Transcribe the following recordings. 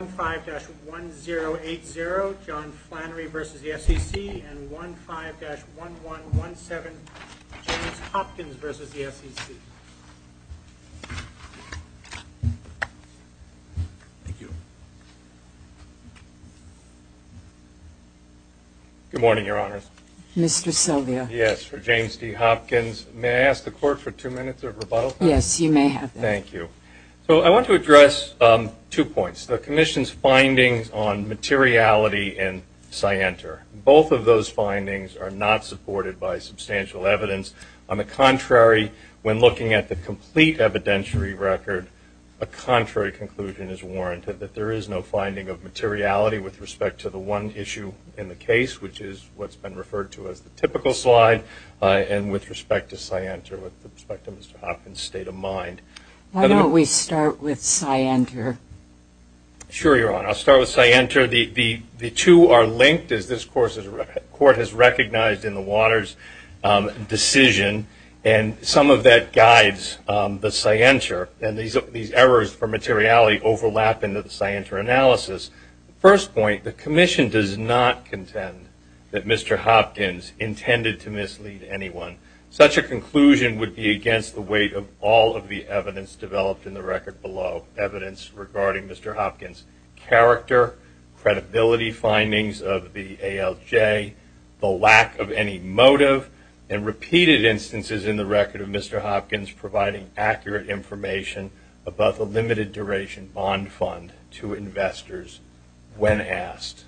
15-1080, John Flannery v. the FCC and 15-1117, James Hopkins v. the FCC. Good morning, Your Honors. Mr. Silvia. Yes, for James D. Hopkins. May I ask the Court for two minutes of rebuttal, please? Yes, you may have that. Thank you. So I want to address two points. The Commission's findings on materiality and scienter. Both of those findings are not supported by substantial evidence. On the contrary, when looking at the complete evidentiary record, a contrary conclusion is warranted that there is no finding of materiality with respect to the one issue in the case, which is what's been referred to as the typical slide, and with respect to scienter, with respect to Mr. Hopkins' state of mind. Why don't we start with scienter? Sure, Your Honor. I'll start with scienter. The two are linked, as this Court has recognized in the Waters decision, and some of that guides the scienter, and these errors for materiality overlap into the scienter analysis. First point, the Commission does not contend that Mr. Hopkins intended to mislead anyone. Such a conclusion would be against the weight of all of the evidence developed in the record below, evidence regarding Mr. Hopkins' character, credibility findings of the ALJ, the lack of any motive, and repeated instances in the record of Mr. Hopkins providing accurate information about the limited duration bond fund to investors when asked.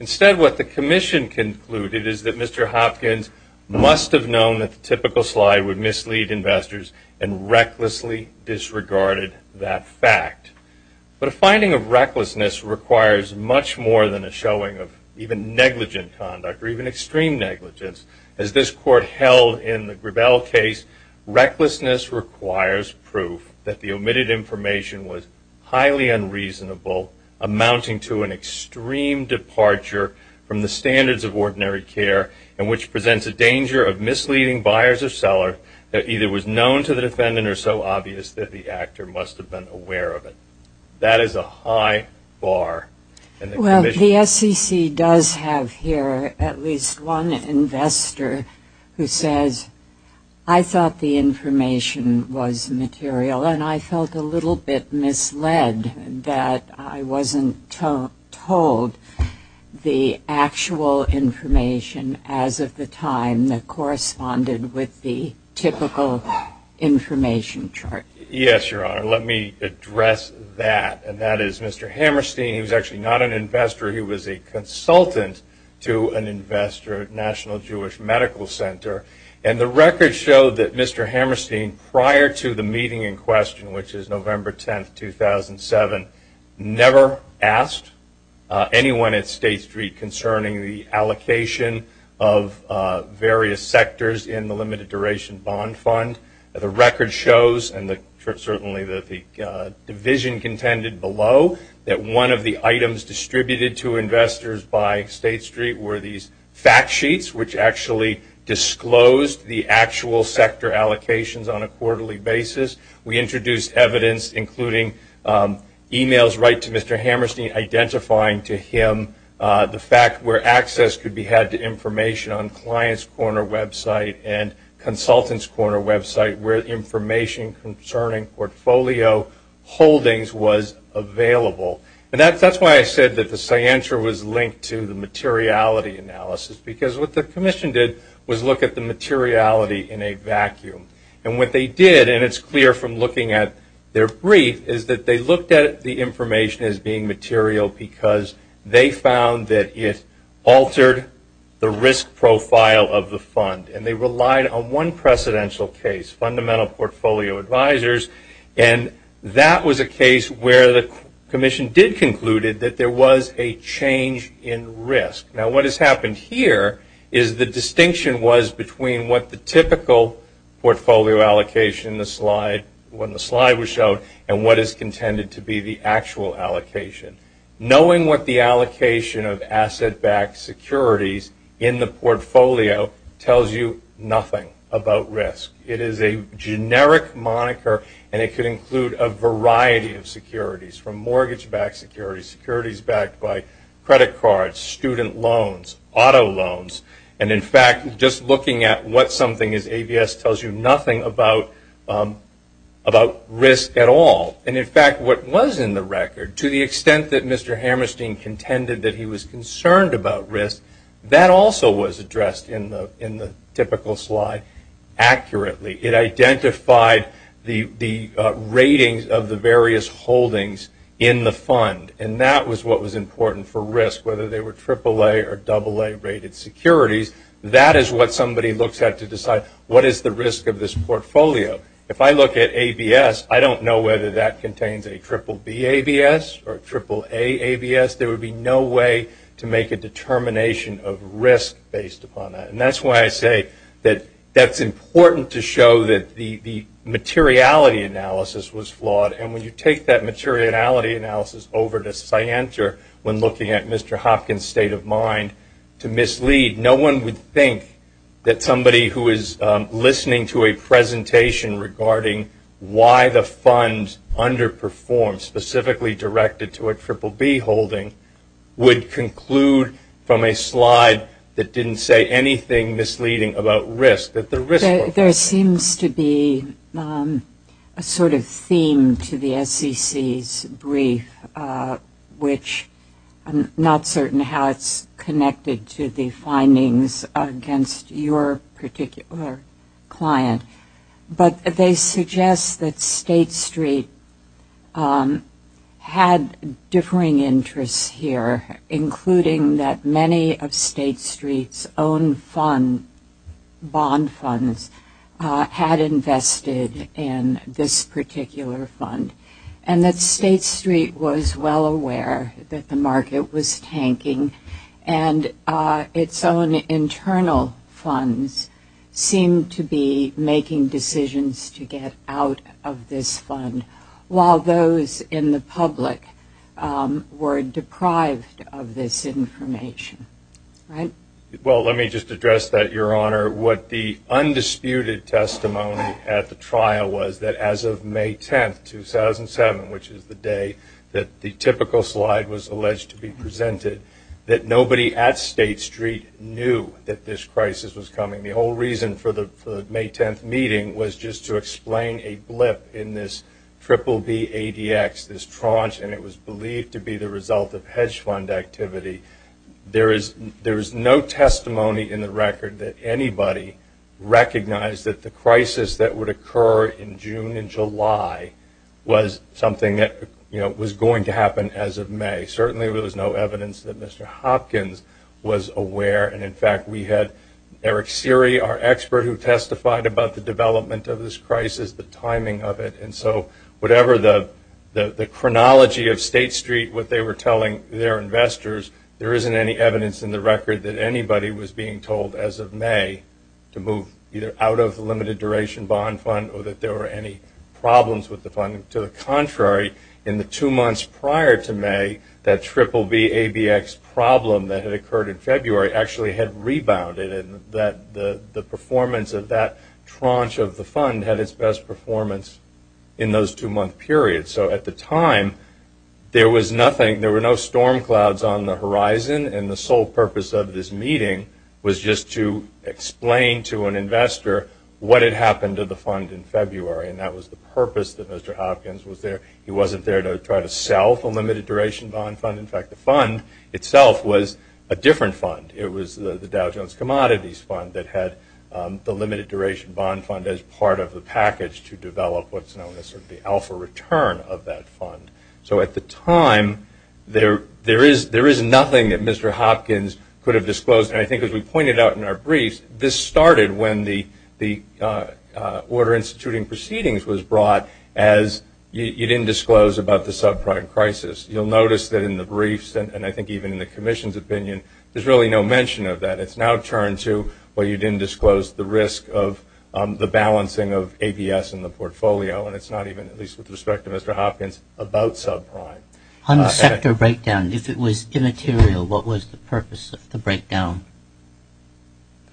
Instead, what the Commission concluded is that Mr. Hopkins must have known that the typical slide would mislead investors and recklessly disregarded that fact. But a finding of recklessness requires much more than a showing of even negligent conduct or even extreme negligence. As this Court held in the Grebel case, recklessness requires proof that the omitted information was highly unreasonable, amounting to an extreme departure from the standards of ordinary care and which presents a danger of misleading buyers or sellers that either was known to the defendant or so obvious that the actor must have been aware of it. That is a high bar. Well, the SEC does have here at least one investor who says, I thought the information was material, and I felt a little bit misled that I wasn't told the actual information as of the time that corresponded with the typical information chart. Yes, Your Honor. Let me address that, and that is Mr. Hammerstein. He was actually not an investor. He was a consultant to an investor at National Jewish Medical Center, and the record showed that Mr. Hammerstein, prior to the meeting in question, which is November 10, 2007, never asked anyone at State Street concerning the allocation of various sectors in the limited duration bond fund. The record shows, and certainly the division contended below, that one of the items distributed to investors by State Street were these fact sheets, which actually disclosed the actual sector allocations on a quarterly basis. We introduced evidence, including e-mails right to Mr. Hammerstein, identifying to him the fact where access could be had to information on Client's Corner website and Consultant's Corner website where information concerning portfolio holdings was available. That's why I said that the scienter was linked to the materiality analysis, because what the commission did was look at the materiality in a vacuum. What they did, and it's clear from looking at their brief, is that they looked at the information as being material because they found that it altered the risk profile of the fund. And they relied on one precedential case, Fundamental Portfolio Advisors, and that was a case where the commission did conclude that there was a change in risk. Now, what has happened here is the distinction was between what the typical portfolio allocation, when the slide was shown, and what is contended to be the actual allocation. Knowing what the allocation of asset-backed securities in the portfolio tells you nothing about risk. It is a generic moniker, and it could include a variety of securities, from mortgage-backed securities, securities backed by credit cards, student loans, auto loans. And in fact, just looking at what something is, AVS tells you nothing about risk at all. And in fact, what was in the record, to the extent that Mr. Hammerstein contended that he was concerned about risk, that also was addressed in the typical slide accurately. It identified the ratings of the various holdings in the fund, and that was what was important for risk, whether they were AAA or AA-rated securities. That is what somebody looks at to decide what is the risk of this portfolio. If I look at AVS, I don't know whether that contains a BBB AVS or AAA AVS. There would be no way to make a determination of risk based upon that. And that's why I say that that's important to show that the materiality analysis was flawed. And when you take that materiality analysis over to Scienter, when looking at Mr. Hopkins' state of mind, to mislead. No one would think that somebody who is listening to a presentation regarding why the fund underperformed, specifically directed to a BBB holding, would conclude from a slide that didn't say anything misleading about risk. There seems to be a sort of theme to the SEC's brief, which I'm not certain how it's connected to the findings against your particular client. But they suggest that State Street had differing interests here, including that many of State Street's own bond funds had invested in this particular fund, and that State Street was well aware that the market was tanking, and its own internal funds seemed to be making decisions to get out of this fund, while those in the public were deprived of this information. Well, let me just address that, Your Honor. What the undisputed testimony at the trial was, that as of May 10th, 2007, which is the day that the typical slide was alleged to be presented, that nobody at State Street knew that this crisis was coming. The whole reason for the May 10th meeting was just to explain a blip in this BBB ADX, this tranche, and it was believed to be the result of hedge fund activity. There is no testimony in the record that anybody recognized that the crisis that would occur in June and July was something that was going to happen as of May. Certainly, there was no evidence that Mr. Hopkins was aware. And, in fact, we had Eric Seery, our expert, who testified about the development of this crisis, the timing of it. And so whatever the chronology of State Street, what they were telling their investors, there isn't any evidence in the record that anybody was being told as of May to move either out of the limited duration bond fund or that there were any problems with the fund. To the contrary, in the two months prior to May, that BBB ADX problem that had occurred in February actually had rebounded and that the performance of that tranche of the fund had its best performance in those two-month periods. So at the time, there was nothing, there were no storm clouds on the horizon, and the sole purpose of this meeting was just to explain to an investor what had happened to the fund in February. And that was the purpose that Mr. Hopkins was there. He wasn't there to try to sell the limited duration bond fund. In fact, the fund itself was a different fund. It was the Dow Jones Commodities Fund that had the limited duration bond fund as part of the package to develop what's known as sort of the alpha return of that fund. So at the time, there is nothing that Mr. Hopkins could have disclosed. And I think as we pointed out in our briefs, this started when the order instituting proceedings was brought as you didn't disclose about the subprime crisis. You'll notice that in the briefs and I think even in the commission's opinion, there's really no mention of that. It's now turned to, well, you didn't disclose the risk of the balancing of ABS in the portfolio, and it's not even, at least with respect to Mr. Hopkins, about subprime. On the sector breakdown, if it was immaterial, what was the purpose of the breakdown?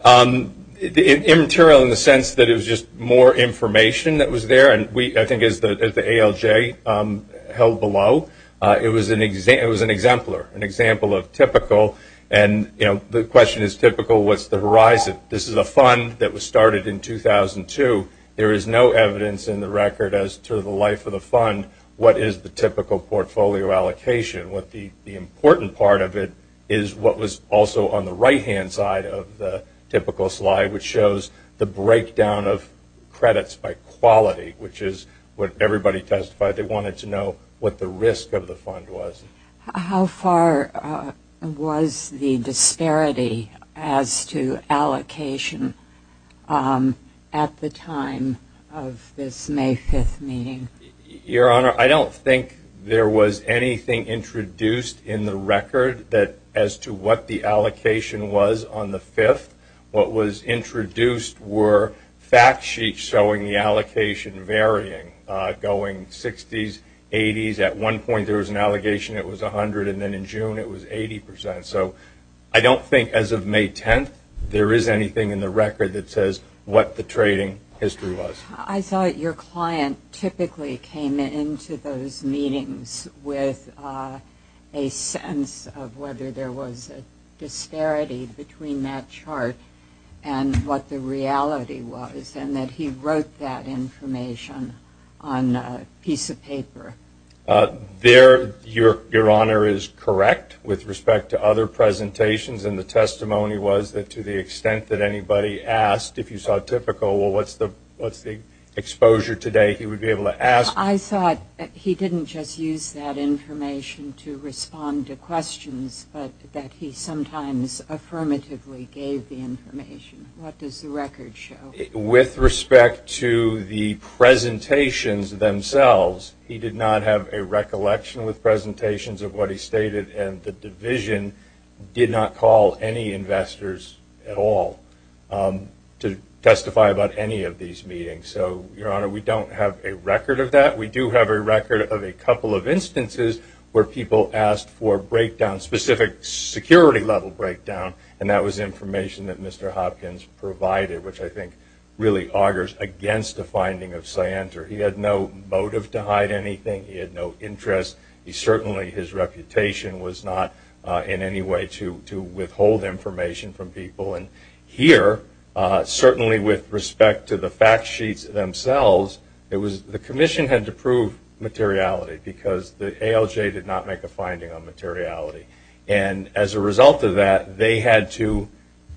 Immaterial in the sense that it was just more information that was there, and I think as the ALJ held below, it was an exemplar, an example of typical. And the question is typical, what's the horizon? This is a fund that was started in 2002. There is no evidence in the record as to the life of the fund. What is the typical portfolio allocation? The important part of it is what was also on the right-hand side of the typical slide, which shows the breakdown of credits by quality, which is what everybody testified. They wanted to know what the risk of the fund was. How far was the disparity as to allocation at the time of this May 5th meeting? Your Honor, I don't think there was anything introduced in the record as to what the allocation was on the 5th. What was introduced were fact sheets showing the allocation varying, going 60s, 80s. At one point there was an allegation it was 100, and then in June it was 80%. So I don't think as of May 10th there is anything in the record that says what the trading history was. I thought your client typically came into those meetings with a sense of whether there was a disparity between that chart and what the reality was, and that he wrote that information on a piece of paper. Your Honor is correct with respect to other presentations, and the testimony was that to the extent that anybody asked if you saw typical, well, what's the exposure today, he would be able to ask. I thought he didn't just use that information to respond to questions, but that he sometimes affirmatively gave the information. What does the record show? With respect to the presentations themselves, he did not have a recollection with presentations of what he stated, and the division did not call any investors at all to testify about any of these meetings. So, Your Honor, we don't have a record of that. We do have a record of a couple of instances where people asked for breakdowns, specific security-level breakdown, and that was information that Mr. Hopkins provided, which I think really augers against the finding of Scienter. He had no motive to hide anything. He had no interest. He certainly, his reputation was not in any way to withhold information from people. And here, certainly with respect to the fact sheets themselves, the commission had to prove materiality because the ALJ did not make a finding on materiality. And as a result of that, they had to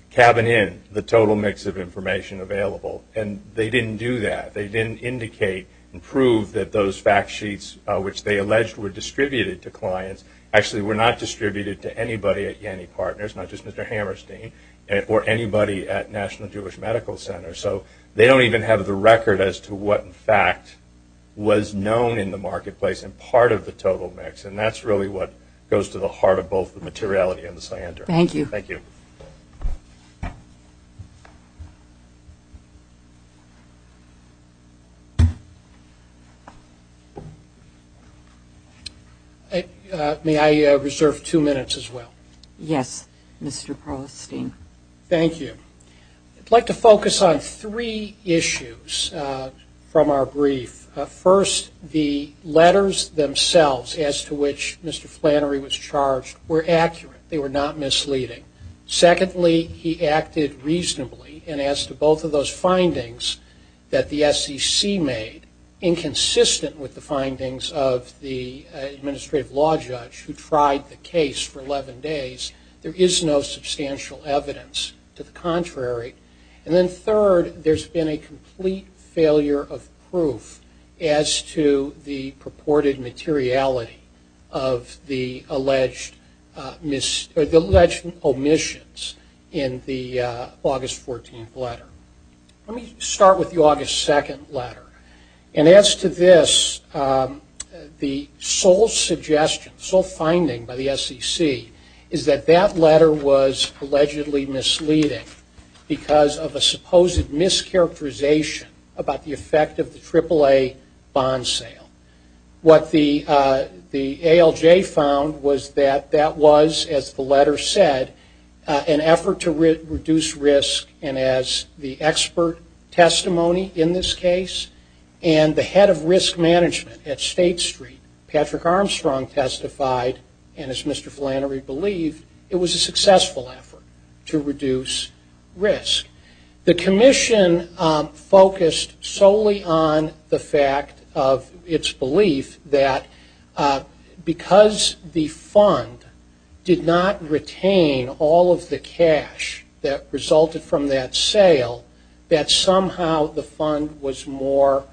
cabin in the total mix of information available, and they didn't do that. They didn't indicate and prove that those fact sheets, which they alleged were distributed to clients, actually were not distributed to anybody at Yanny Partners, not just Mr. Hammerstein, or anybody at National Jewish Medical Center. So they don't even have the record as to what, in fact, was known in the marketplace and part of the total mix. And that's really what goes to the heart of both the materiality and the Scienter. Thank you. Thank you. Thank you. May I reserve two minutes as well? Yes, Mr. Pearlstein. Thank you. I'd like to focus on three issues from our brief. First, the letters themselves as to which Mr. Flannery was charged were accurate. They were not misleading. Secondly, he acted reasonably, and as to both of those findings that the SEC made, inconsistent with the findings of the administrative law judge who tried the case for 11 days, there is no substantial evidence to the contrary. And then third, there's been a complete failure of proof as to the purported materiality of the alleged omissions in the August 14th letter. Let me start with the August 2nd letter. And as to this, the sole suggestion, the sole finding by the SEC is that that letter was allegedly misleading because of a supposed mischaracterization about the effect of the AAA bond sale. What the ALJ found was that that was, as the letter said, an effort to reduce risk. And as the expert testimony in this case and the head of risk management at State Street, Patrick Armstrong testified, and as Mr. Flannery believed, it was a successful effort to reduce risk. The commission focused solely on the fact of its belief that because the fund did not retain all of the cash that resulted from that sale, that somehow the fund was more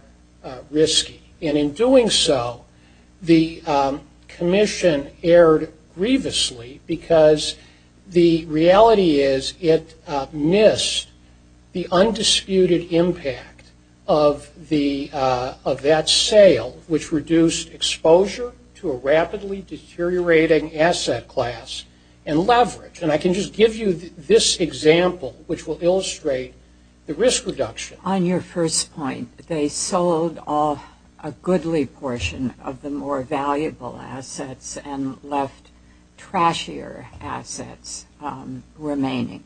risky. And in doing so, the commission erred grievously because the reality is it missed the undisputed impact of that sale, which reduced exposure to a rapidly deteriorating asset class and leverage. And I can just give you this example, which will illustrate the risk reduction. On your first point, they sold off a goodly portion of the more valuable assets and left trashier assets remaining.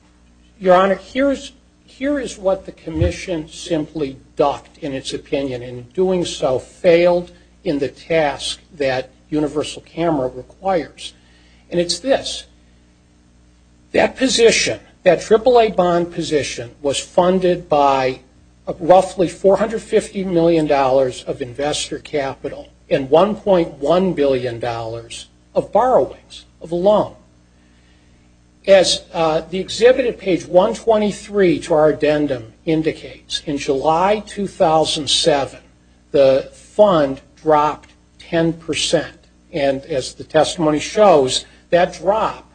Your Honor, here is what the commission simply ducked in its opinion. In doing so, failed in the task that Universal Camera requires. And it's this. That position, that AAA bond position, was funded by roughly $450 million of investor capital and $1.1 billion of borrowings, of a loan. As the exhibit at page 123 to our addendum indicates, in July 2007, the fund dropped 10%. And as the testimony shows, that drop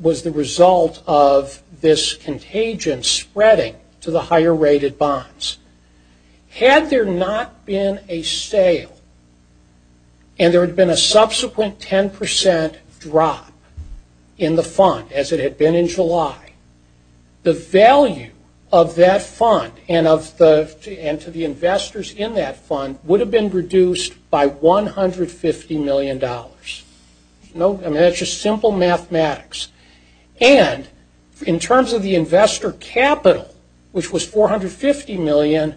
was the result of this contagion spreading to the higher rated bonds. Had there not been a sale and there had been a subsequent 10% drop in the fund, as it had been in July, the value of that fund and to the investors in that fund would have been reduced by $150 million. That's just simple mathematics. And in terms of the investor capital, which was $450 million,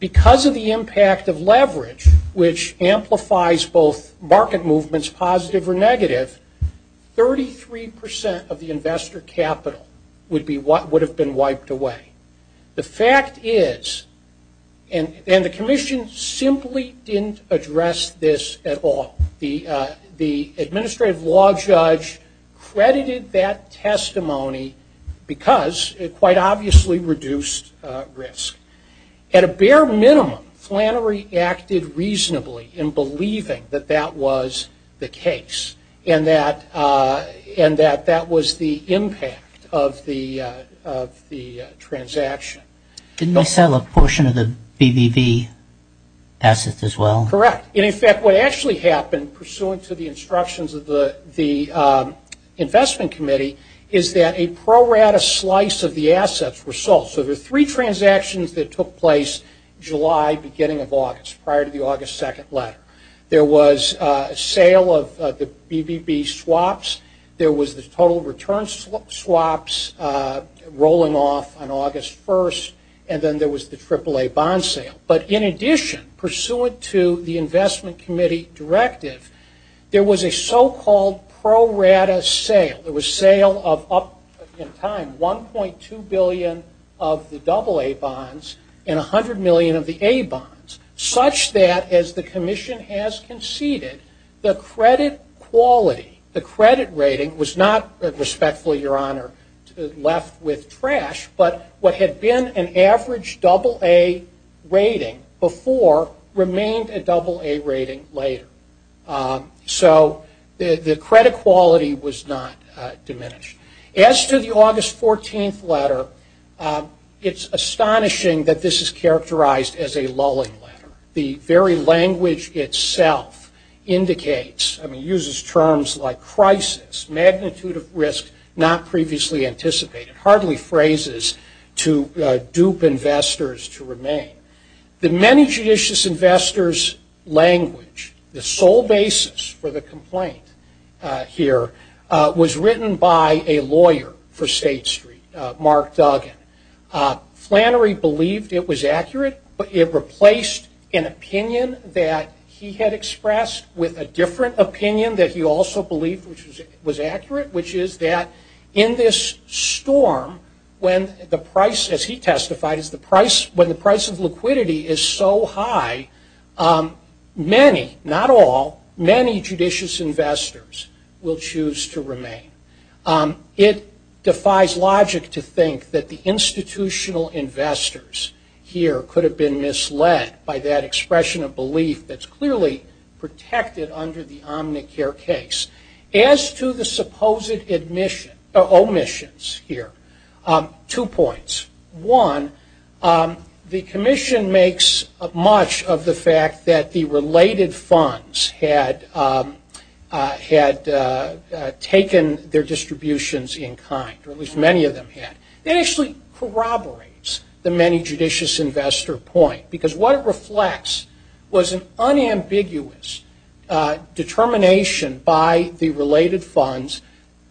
because of the impact of leverage, which amplifies both market movements, positive or negative, 33% of the investor capital would have been wiped away. The fact is, and the commission simply didn't address this at all, the administrative law judge credited that testimony because it quite obviously reduced risk. At a bare minimum, Flannery acted reasonably in believing that that was the case and that that was the impact of the transaction. Didn't they sell a portion of the BBV assets as well? Correct. And in fact, what actually happened, pursuant to the instructions of the investment committee, is that a pro rata slice of the assets were sold. So there are three transactions that took place July, beginning of August, prior to the August 2nd letter. There was a sale of the BBV swaps. There was the total return swaps rolling off on August 1st. And then there was the AAA bond sale. But in addition, pursuant to the investment committee directive, there was a so-called pro rata sale. There was sale of up in time 1.2 billion of the AA bonds and 100 million of the A bonds, such that as the commission has conceded, the credit quality, the credit rating, was not, respectfully, Your Honor, left with trash, but what had been an average AA rating before remained a AA rating later. So the credit quality was not diminished. As to the August 14th letter, it's astonishing that this is characterized as a lulling letter. The very language itself indicates, I mean, uses terms like crisis, magnitude of risk, not previously anticipated, hardly phrases to dupe investors to remain. The many judicious investors' language, the sole basis for the complaint here, was written by a lawyer for State Street, Mark Duggan. Flannery believed it was accurate, but it replaced an opinion that he had expressed with a different opinion that he also believed was accurate, which is that in this storm, when the price, as he testified, when the price of liquidity is so high, many, not all, many judicious investors will choose to remain. It defies logic to think that the institutional investors here could have been misled by that expression of belief that's clearly protected under the Omnicare case. As to the supposed omissions here, two points. One, the commission makes much of the fact that the related funds had taken their distributions in kind, or at least many of them had. It actually corroborates the many judicious investor point, because what it reflects was an unambiguous determination by the related funds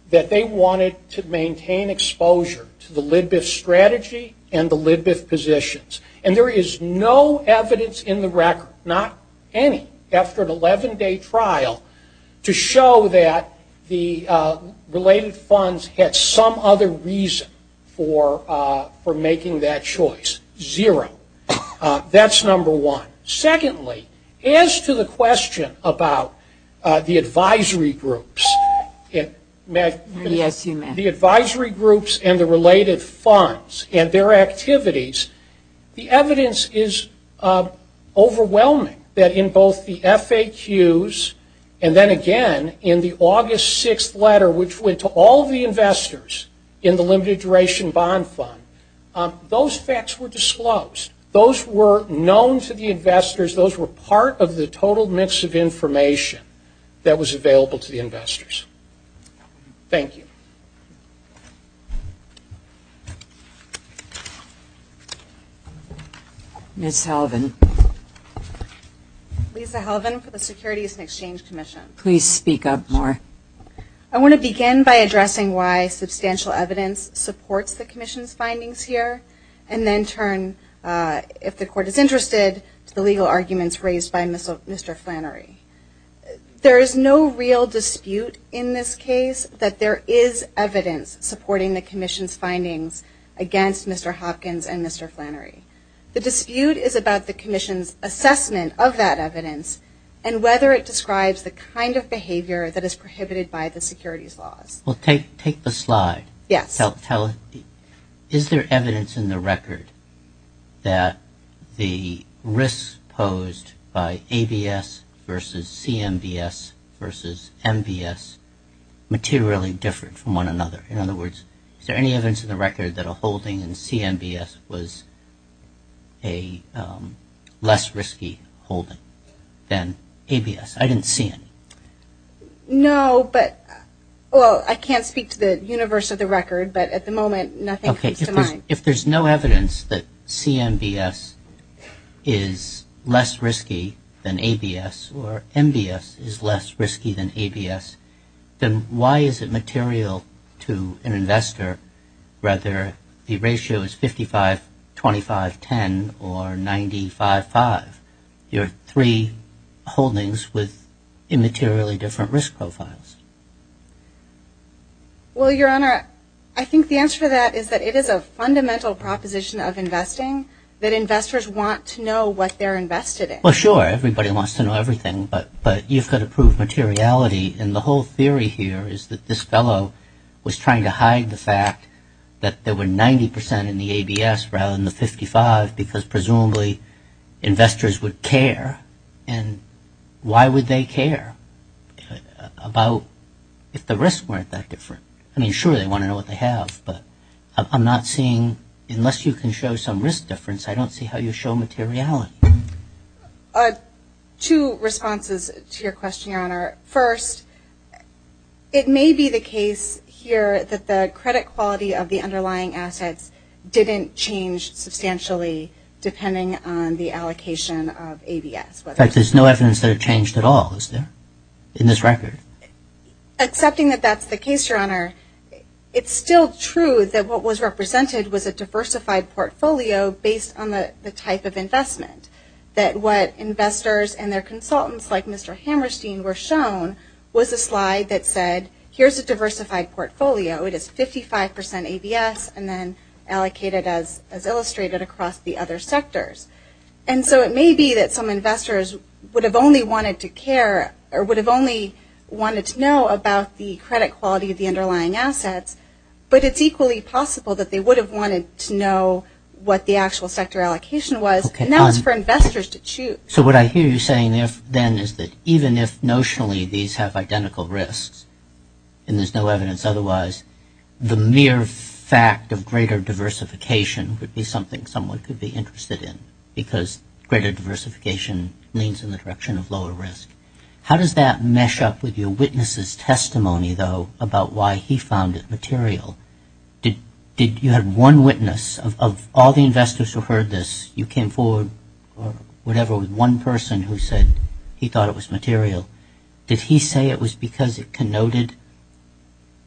that they wanted to maintain exposure to the Lidbiff strategy and the Lidbiff positions. And there is no evidence in the record, not any, after an 11-day trial, to show that the related funds had some other reason for making that choice. Zero. That's number one. Secondly, as to the question about the advisory groups and the related funds and their activities, the evidence is overwhelming that in both the FAQs and then again in the August 6th letter, which went to all of the investors in the limited duration bond fund, those facts were disclosed. Those were known to the investors. Those were part of the total mix of information that was available to the investors. Thank you. Ms. Halvan. Lisa Halvan for the Securities and Exchange Commission. Please speak up more. I want to begin by addressing why substantial evidence supports the Commission's findings here, and then turn, if the Court is interested, to the legal arguments raised by Mr. Flannery. There is no real dispute in this case that there is evidence supporting the Commission's findings against Mr. Hopkins and Mr. Flannery. The dispute is about the Commission's assessment of that evidence and whether it describes the kind of behavior that is prohibited by the securities laws. Well, take the slide. Yes. Is there evidence in the record that the risks posed by ABS versus CMBS versus MBS materially differ from one another? In other words, is there any evidence in the record that a holding in CMBS was a less risky holding than ABS? I didn't see any. No, but, well, I can't speak to the universe of the record, but at the moment nothing comes to mind. If there's no evidence that CMBS is less risky than ABS or MBS is less risky than ABS, then why is it material to an investor whether the ratio is 55-25-10 or 90-5-5? You have three holdings with immaterially different risk profiles. Well, Your Honor, I think the answer to that is that it is a fundamental proposition of investing that investors want to know what they're invested in. Well, sure, everybody wants to know everything, but you've got to prove materiality. And the whole theory here is that this fellow was trying to hide the fact that there were 90% in the ABS rather than the 55% because presumably investors would care. And why would they care about if the risks weren't that different? I mean, sure, they want to know what they have, but I'm not seeing, unless you can show some risk difference, I don't see how you show materiality. Two responses to your question, Your Honor. First, it may be the case here that the credit quality of the underlying assets didn't change substantially depending on the allocation of ABS. In fact, there's no evidence that it changed at all, is there, in this record? Accepting that that's the case, Your Honor, it's still true that what was represented was a diversified portfolio based on the type of investment, that what investors and their consultants like Mr. Hammerstein were shown was a slide that said, here's a diversified portfolio. It is 55% ABS and then allocated as illustrated across the other sectors. And so it may be that some investors would have only wanted to care But it's equally possible that they would have wanted to know what the actual sector allocation was, and that was for investors to choose. So what I hear you saying then is that even if notionally these have identical risks and there's no evidence otherwise, the mere fact of greater diversification would be something someone could be interested in because greater diversification leans in the direction of lower risk. How does that mesh up with your witness's testimony, though, about why he found it material? Did you have one witness of all the investors who heard this, you came forward or whatever with one person who said he thought it was material. Did he say it was because it connoted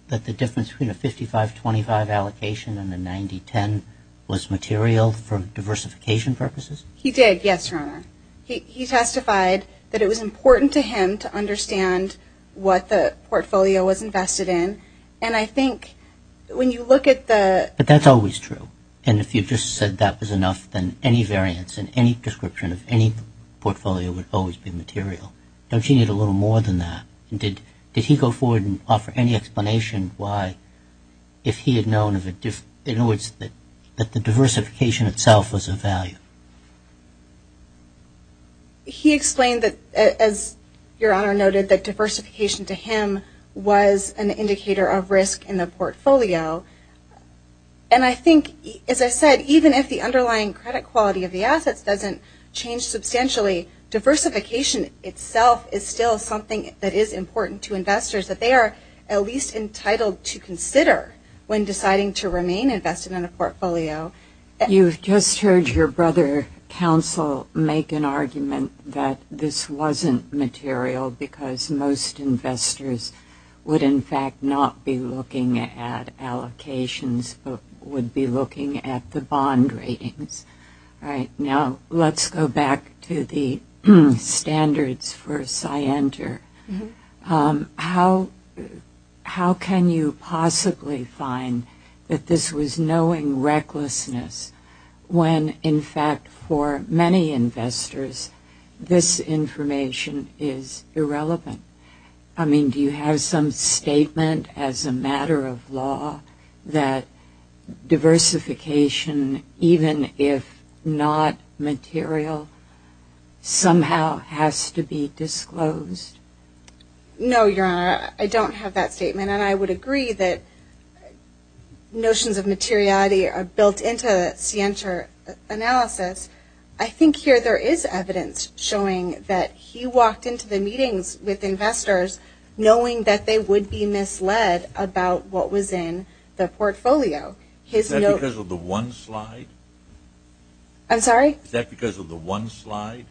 that the difference between a 55-25 allocation and a 90-10 was material for diversification purposes? He did, yes, Your Honor. He testified that it was important to him to understand what the portfolio was invested in, and I think when you look at the... But that's always true. And if you just said that was enough, then any variance in any description of any portfolio would always be material. Don't you need a little more than that? Did he go forward and offer any explanation why, if he had known that the diversification itself was of value? He explained that, as Your Honor noted, that diversification to him was an indicator of risk in the portfolio. And I think, as I said, even if the underlying credit quality of the assets doesn't change substantially, diversification itself is still something that is important to investors, that they are at least entitled to consider when deciding to remain invested in a portfolio. You've just heard your brother counsel make an argument that this wasn't material because most investors would, in fact, not be looking at allocations but would be looking at the bond ratings. All right. Now let's go back to the standards for Scienter. How can you possibly find that this was knowing recklessness when, in fact, for many investors, this information is irrelevant? I mean, do you have some statement as a matter of law that diversification, even if not material, somehow has to be disclosed? No, Your Honor. I don't have that statement, and I would agree that notions of materiality are built into the Scienter analysis. I think here there is evidence showing that he walked into the meetings with investors knowing that they would be misled about what was in the portfolio. Is that because of the one slide? I'm sorry? Is that because of the one slide?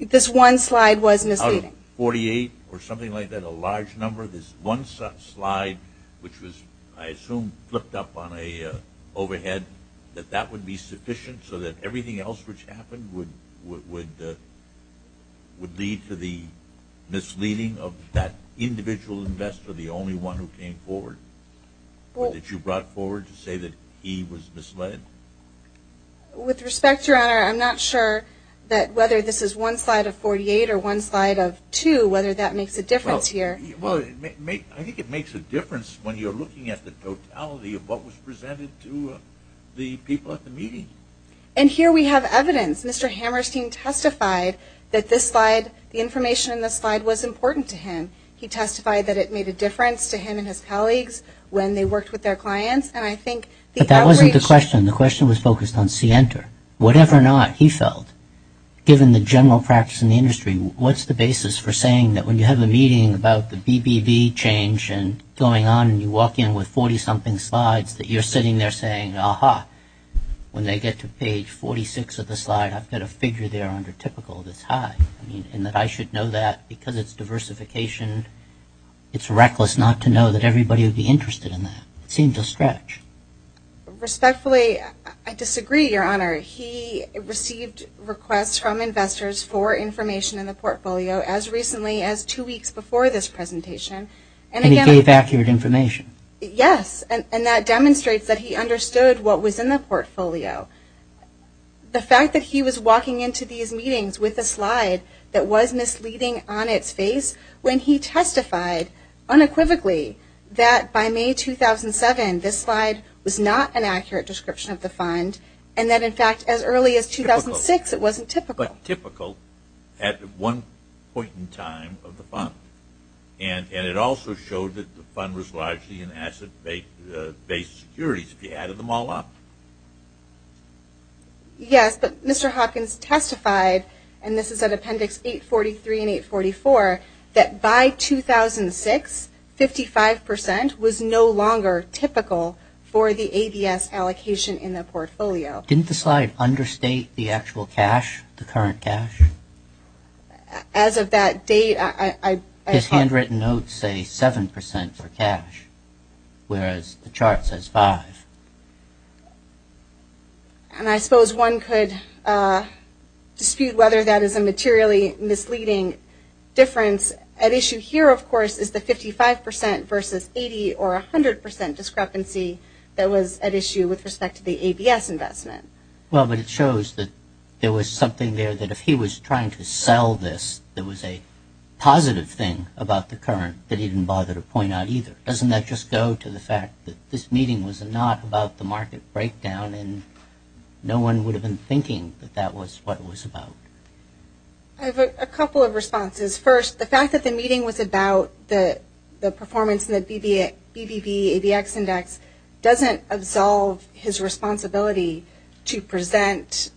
This one slide was misleading. Out of 48 or something like that, a large number, this one slide, which was, I assume, flipped up on a overhead, that that would be sufficient so that everything else which happened would lead to the misleading of that individual investor, the only one who came forward, that you brought forward to say that he was misled? With respect, Your Honor, I'm not sure that whether this is one slide of 48 or one slide of two, whether that makes a difference here. I think it makes a difference when you're looking at the totality of what was presented to the people at the meeting. And here we have evidence. Mr. Hammerstein testified that this slide, the information in this slide was important to him. He testified that it made a difference to him and his colleagues when they worked with their clients. But that wasn't the question. The question was focused on Scienter. Whatever or not he felt, given the general practice in the industry, what's the basis for saying that when you have a meeting about the BBB change and going on and you walk in with 40-something slides, that you're sitting there saying, aha, when they get to page 46 of the slide, I've got a figure there under typical that's high, and that I should know that because it's diversification. It's reckless not to know that everybody would be interested in that. It seems a stretch. Respectfully, I disagree, Your Honor. He received requests from investors for information in the portfolio as recently as two weeks before this presentation. And he gave accurate information? Yes. And that demonstrates that he understood what was in the portfolio. The fact that he was walking into these meetings with a slide that was misleading on its face when he testified unequivocally that by May 2007, this slide was not an accurate description of the fund, and that in fact as early as 2006 it wasn't typical. But typical at one point in time of the fund. And it also showed that the fund was largely in asset-based securities, if you added them all up. Yes, but Mr. Hopkins testified, and this is at Appendix 843 and 844, that by 2006, 55% was no longer typical for the ABS allocation in the portfolio. Didn't the slide understate the actual cash, the current cash? As of that date, I thought... His handwritten notes say 7% for cash, whereas the chart says 5. And I suppose one could dispute whether that is a materially misleading difference. At issue here, of course, is the 55% versus 80% or 100% discrepancy that was at issue with respect to the ABS investment. Well, but it shows that there was something there that if he was trying to sell this, there was a positive thing about the current that he didn't bother to point out either. Doesn't that just go to the fact that this meeting was not about the market breakdown and no one would have been thinking that that was what it was about? I have a couple of responses. First, the fact that the meeting was about the performance in the BBV ABX index doesn't absolve his responsibility to present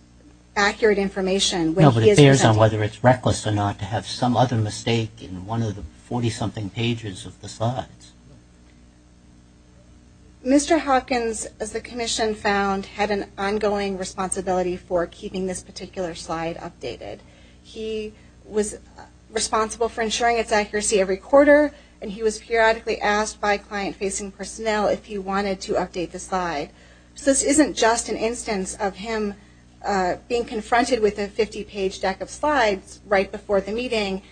accurate information... No, but it bears on whether it's reckless or not to have some other mistake in one of the 40-something pages of the slides. Mr. Hawkins, as the Commission found, had an ongoing responsibility for keeping this particular slide updated. He was responsible for ensuring its accuracy every quarter, and he was periodically asked by client-facing personnel if he wanted to update the slide. So this isn't just an instance of him being confronted with a 50-page deck of slides right before the meeting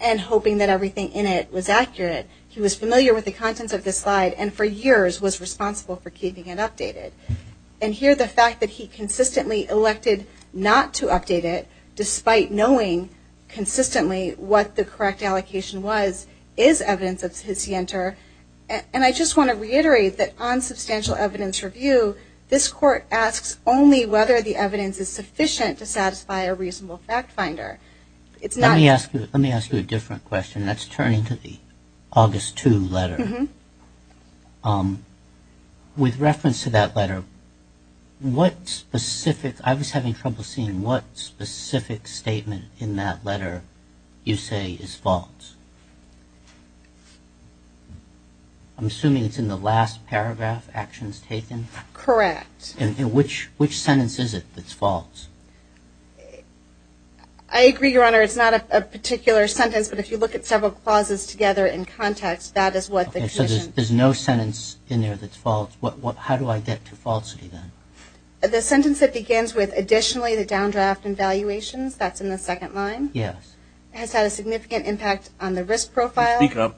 and hoping that everything in it was accurate. He was familiar with the contents of the slide and for years was responsible for keeping it updated. And here the fact that he consistently elected not to update it, despite knowing consistently what the correct allocation was, is evidence of his yanter. And I just want to reiterate that on substantial evidence review, this Court asks only whether the evidence is sufficient to satisfy a reasonable fact finder. Let me ask you a different question. Let's turn to the August 2 letter. With reference to that letter, what specific... I was having trouble seeing what specific statement in that letter you say is false. I'm assuming it's in the last paragraph, actions taken? Correct. And which sentence is it that's false? I agree, Your Honor, it's not a particular sentence, but if you look at several clauses together in context, that is what the Commission... Okay, so there's no sentence in there that's false. How do I get to falsity, then? The sentence that begins with additionally the downdraft in valuations, that's in the second line, has had a significant impact on the risk profile,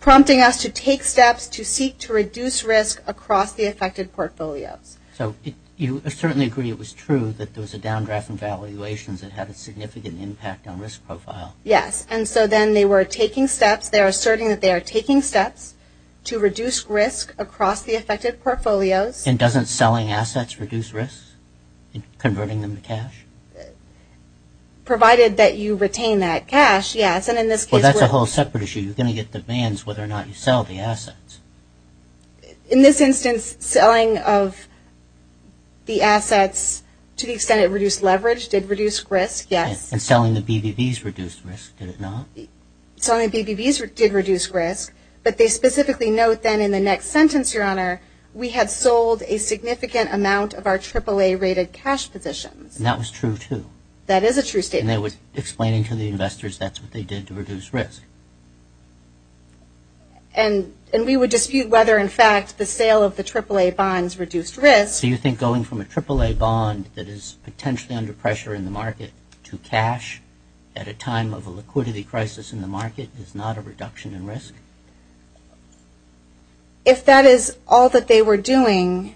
prompting us to take steps to seek to reduce risk across the affected portfolios. So you certainly agree it was true that there was a downdraft in valuations that had a significant impact on risk profile. Yes, and so then they were taking steps, they're asserting that they are taking steps to reduce risk across the affected portfolios. And doesn't selling assets reduce risk in converting them to cash? Provided that you retain that cash, yes, and in this case... Well, that's a whole separate issue. You're going to get demands whether or not you sell the assets. In this instance, selling of the assets to the extent it reduced leverage did reduce risk, yes. And selling the BBVs reduced risk, did it not? Selling the BBVs did reduce risk, but they specifically note then in the next sentence, Your Honor, we had sold a significant amount of our AAA-rated cash positions. And that was true, too. That is a true statement. And they were explaining to the investors that's what they did to reduce risk. And we would dispute whether, in fact, the sale of the AAA bonds reduced risk. Do you think going from a AAA bond that is potentially under pressure in the market to cash at a time of a liquidity crisis in the market is not a reduction in risk? If that is all that they were doing,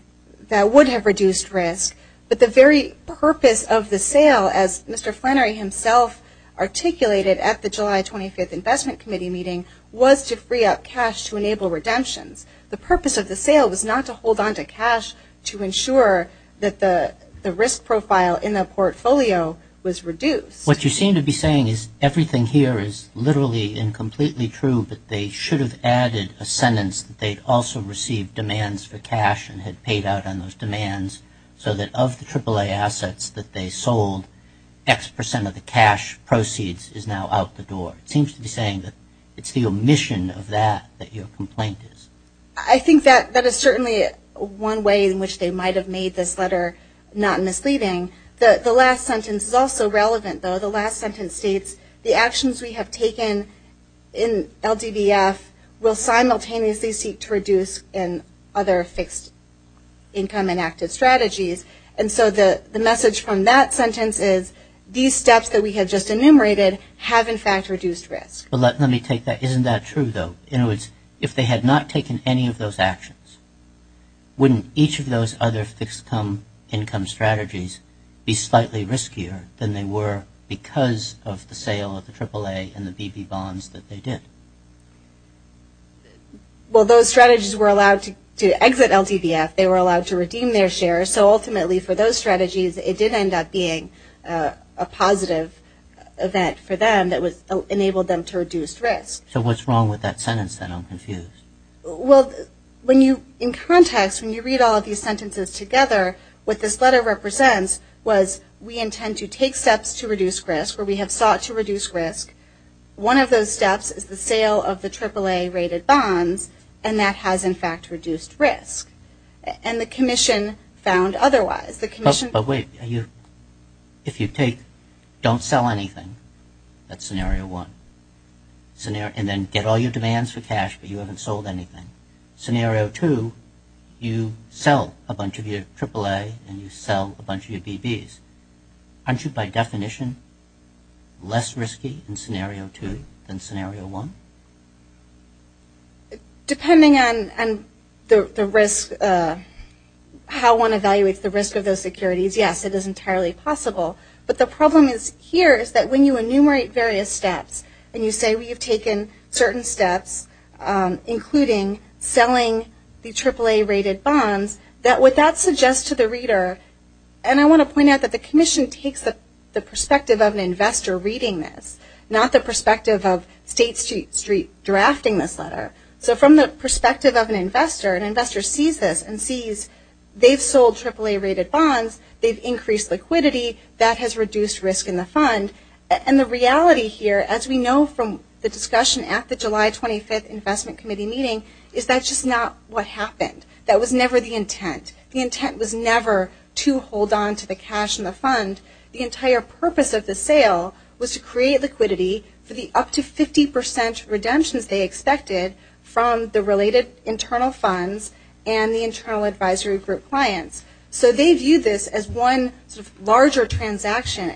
that would have reduced risk. But the very purpose of the sale, as Mr. Flannery himself articulated at the July 25th Investment Committee meeting, was to free up cash to enable redemptions. The purpose of the sale was not to hold onto cash to ensure that the risk profile in the portfolio was reduced. What you seem to be saying is everything here is literally and completely true, but they should have added a sentence that they'd also received demands for cash and had paid out on those demands so that of the AAA assets that they sold, X percent of the cash proceeds is now out the door. It seems to be saying that it's the omission of that that your complaint is. I think that is certainly one way in which they might have made this letter not misleading. The last sentence is also relevant, though. The last sentence states the actions we have taken in LDBF will simultaneously seek to reduce in other fixed income and active strategies. And so the message from that sentence is these steps that we have just enumerated have, in fact, reduced risk. Let me take that. Isn't that true, though? In other words, if they had not taken any of those actions, wouldn't each of those other fixed income strategies be slightly riskier than they were because of the sale of the AAA and the BB bonds that they did? Well, those strategies were allowed to exit LDBF. They were allowed to redeem their shares, so ultimately for those strategies, it did end up being a positive event for them that enabled them to reduce risk. So what's wrong with that sentence, then? I'm confused. Well, in context, when you read all of these sentences together, what this letter represents was we intend to take steps to reduce risk, or we have sought to reduce risk. One of those steps is the sale of the AAA-rated bonds, and that has, in fact, reduced risk. And the commission found otherwise. But wait. If you take don't sell anything, that's scenario one. And then get all your demands for cash, but you haven't sold anything. Scenario two, you sell a bunch of your AAA and you sell a bunch of your BBs. Aren't you, by definition, less risky in scenario two than scenario one? Depending on how one evaluates the risk of those securities, yes, it is entirely possible. But the problem here is that when you enumerate various steps and you say we have taken certain steps, including selling the AAA-rated bonds, what that suggests to the reader, and I want to point out that the commission takes the perspective of an investor reading this, not the perspective of State Street drafting this letter. So from the perspective of an investor, an investor sees this They've increased liquidity. That has reduced risk in the fund. And the reality here, as we know from the discussion at the July 25th Investment Committee meeting, is that's just not what happened. That was never the intent. The intent was never to hold on to the cash in the fund. The entire purpose of the sale was to create liquidity for the up to 50% redemptions they expected from the related internal funds and the internal advisory group clients. So they viewed this as one larger transaction.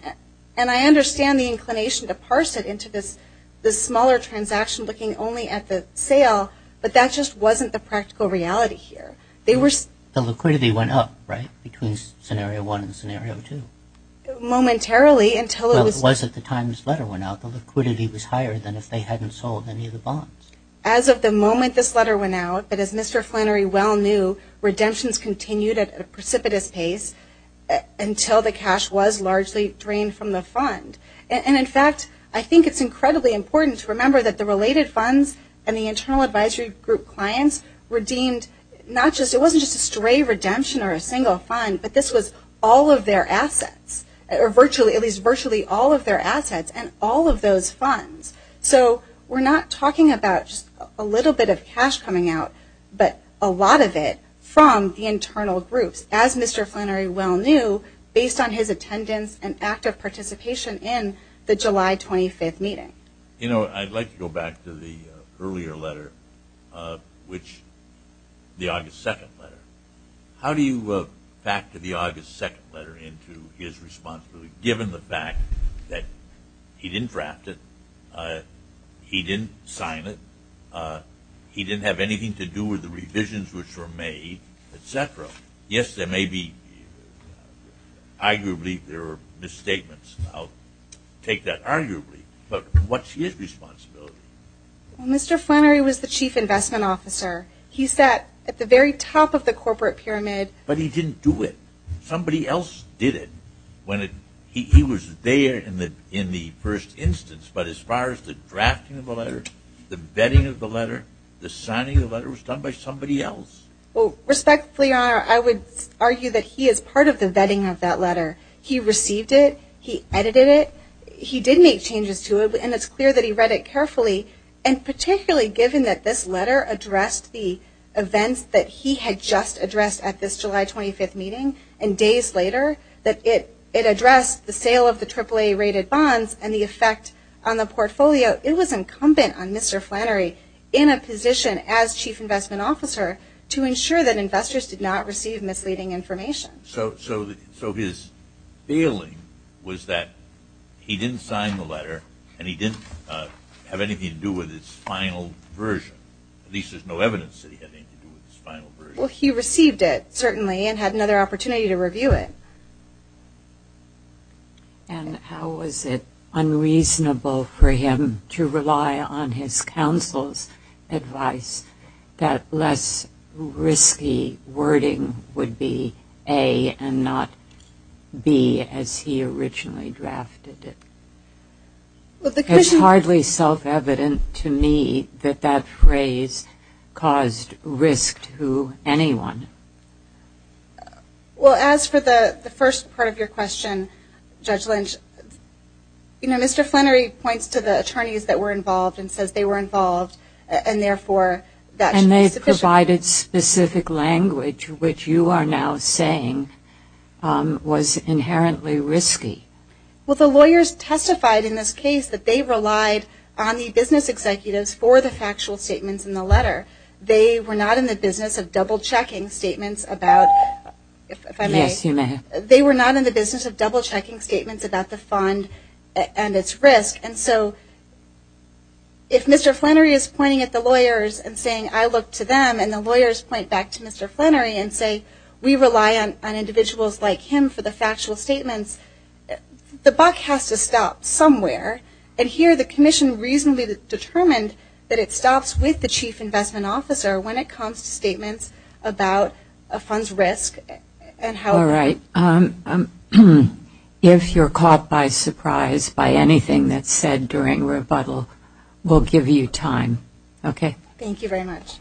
And I understand the inclination to parse it into this smaller transaction looking only at the sale, but that just wasn't the practical reality here. The liquidity went up, right, between Scenario 1 and Scenario 2? Momentarily, until it was... Well, it wasn't the time this letter went out. The liquidity was higher than if they hadn't sold any of the bonds. As of the moment this letter went out, but as Mr. Flannery well knew, redemptions continued at a precipitous pace until the cash was largely drained from the fund. And, in fact, I think it's incredibly important to remember that the related funds and the internal advisory group clients were deemed not just... It wasn't just a stray redemption or a single fund, but this was all of their assets, or at least virtually all of their assets and all of those funds. So we're not talking about just a little bit of cash coming out, but a lot of it from the internal groups, as Mr. Flannery well knew, based on his attendance and active participation in the July 25th meeting. You know, I'd like to go back to the earlier letter, the August 2nd letter. How do you factor the August 2nd letter into his responsibility, given the fact that he didn't draft it, he didn't sign it, he didn't have anything to do with the revisions which were made, etc.? Yes, there may be, arguably, there are misstatements. I'll take that arguably, but what's his responsibility? Well, Mr. Flannery was the chief investment officer. He sat at the very top of the corporate pyramid. But he didn't do it. Somebody else did it when he was there in the first instance. But as far as the drafting of the letter, the vetting of the letter, the signing of the letter was done by somebody else. Well, respectfully, I would argue that he is part of the vetting of that letter. He received it. He edited it. He did make changes to it, and it's clear that he read it carefully, and particularly given that this letter addressed the events that he had just later, that it addressed the sale of the AAA-rated bonds and the effect on the portfolio. It was incumbent on Mr. Flannery, in a position as chief investment officer, to ensure that investors did not receive misleading information. So his feeling was that he didn't sign the letter, and he didn't have anything to do with its final version. At least there's no evidence that he had anything to do with its final version. Well, he received it, certainly, and had another opportunity to review it. And how was it unreasonable for him to rely on his counsel's advice that less risky wording would be A and not B as he originally drafted it? It's hardly self-evident to me that that phrase caused risk to anyone. Well, as for the first part of your question, Judge Lynch, Mr. Flannery points to the attorneys that were involved and says they were involved, and therefore that should be sufficient. And they provided specific language, which you are now saying was inherently risky. Well, the lawyers testified in this case that they relied on the business executives for the factual statements in the letter. They were not in the business of double-checking statements about the fund and its risk. And so if Mr. Flannery is pointing at the lawyers and saying, I look to them and the lawyers point back to Mr. Flannery and say, we rely on individuals like him for the factual statements, the buck has to stop somewhere. And here the commission reasonably determined that it stops with the chief investment officer when it comes to statements about a fund's risk. All right. If you're caught by surprise by anything that's said during rebuttal, we'll give you time. Okay. Thank you very much.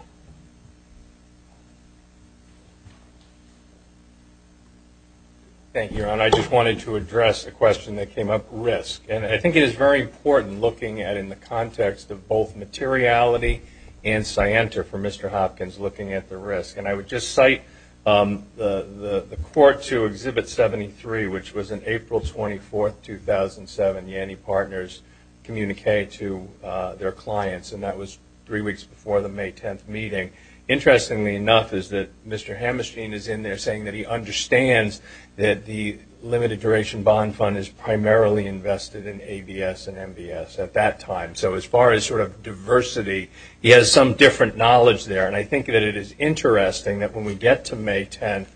Thank you, Ron. I just wanted to address a question that came up, risk. And I think it is very important looking at it in the context of both materiality and scienter for Mr. Hopkins looking at the risk. And I would just cite the court to Exhibit 73, which was an April 24, 2007 Yanny Partners communique to their clients, and that was three weeks before the May 10th meeting. Interestingly enough is that Mr. Hammerstein is in there saying that he understands that the limited duration bond fund is primarily invested in ABS and MBS at that time. So as far as sort of diversity, he has some different knowledge there. And I think that it is interesting that when we get to May 10th,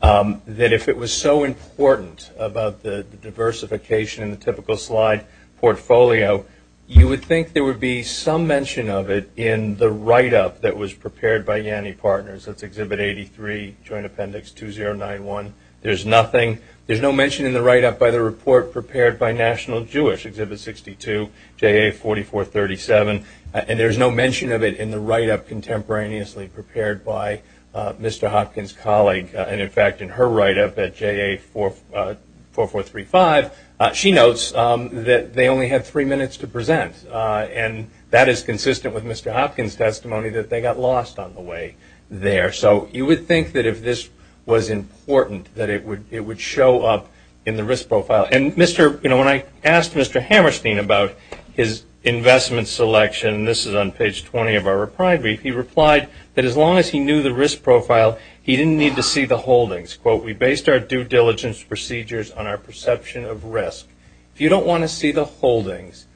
that if it was so important about the diversification in the typical slide portfolio, you would think there would be some mention of it in the write-up that was prepared by Yanny Partners. That's Exhibit 83, Joint Appendix 2091. There's nothing. There's no mention in the write-up by the report prepared by National Jewish, Exhibit 62, JA4437. And there's no mention of it in the write-up contemporaneously prepared by Mr. Hopkins' colleague. And, in fact, in her write-up at JA4435, she notes that they only had three minutes to present. And that is consistent with Mr. Hopkins' testimony that they got lost on the way there. So you would think that if this was important that it would show up in the risk profile. And, you know, when I asked Mr. Hammerstein about his investment selection, this is on page 20 of our reply brief, he replied that as long as he knew the risk profile, he didn't need to see the holdings. Quote, we based our due diligence procedures on our perception of risk. If you don't want to see the holdings,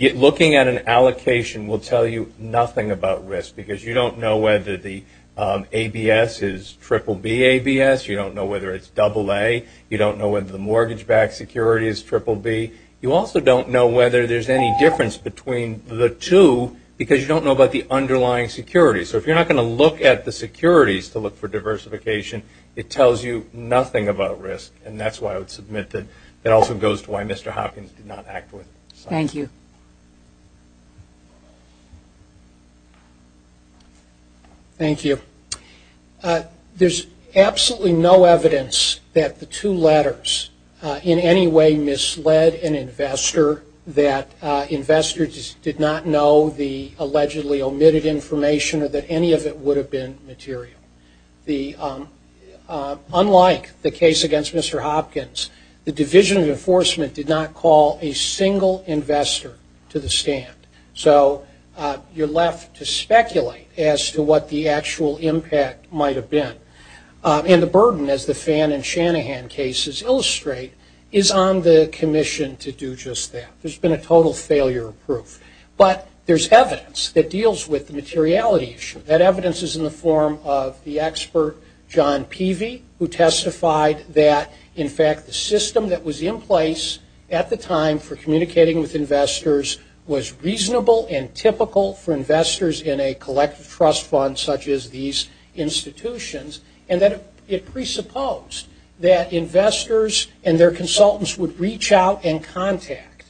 looking at an allocation will tell you nothing about risk because you don't know whether the ABS is BBB ABS. You don't know whether it's AA. You don't know whether the mortgage-backed security is BBB. You also don't know whether there's any difference between the two because you don't know about the underlying security. So if you're not going to look at the securities to look for diversification, it tells you nothing about risk. And that's why I would submit that that also goes to why Mr. Hopkins did not act with it. Thank you. Thank you. There's absolutely no evidence that the two letters in any way misled an investor, that investors did not know the allegedly omitted information or that any of it would have been material. Unlike the case against Mr. Hopkins, the Division of Enforcement did not call a single investor to the stand. So you're left to speculate as to what the actual impact might have been. And the burden, as the Fan and Shanahan cases illustrate, is on the commission to do just that. There's been a total failure of proof. But there's evidence that deals with the materiality issue. That evidence is in the form of the expert John Peavy, who testified that, in fact, the system that was in place at the time for communicating with investors was reasonable and typical for investors in a collective trust fund such as these institutions, and that it presupposed that investors and their consultants would reach out and contact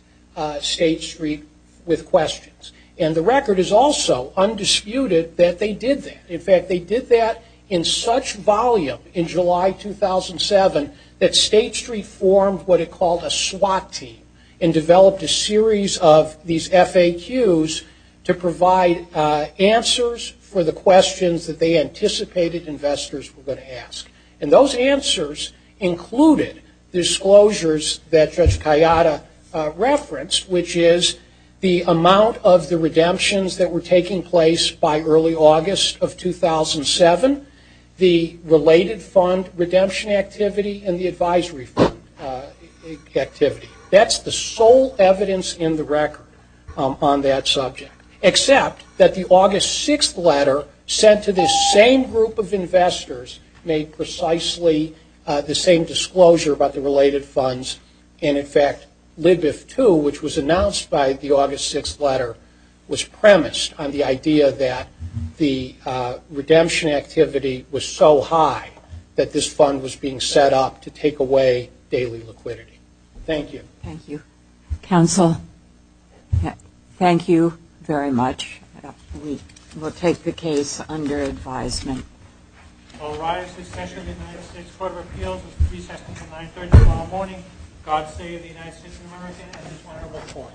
State Street with questions. And the record is also undisputed that they did that. In fact, they did that in such volume in July 2007 that State Street formed what it called a SWAT team and developed a series of these FAQs to provide answers for the questions that they anticipated investors were going to ask. And those answers included disclosures that Judge Kayada referenced, which is the amount of the redemptions that were taking place by early August of 2007, the related fund redemption activity, and the advisory fund activity. That's the sole evidence in the record on that subject, except that the August 6th letter sent to this same group of investors made precisely the same disclosure about the related funds. And, in fact, LIBIF II, which was announced by the August 6th letter, was premised on the idea that the redemption activity was so high that this fund was being set up to take away daily liquidity. Thank you. Thank you. Counsel, thank you very much. We will take the case under advisement. All rise. This session of the United States Court of Appeals is presented to 930 tomorrow morning. God save the United States of America and this honorable court.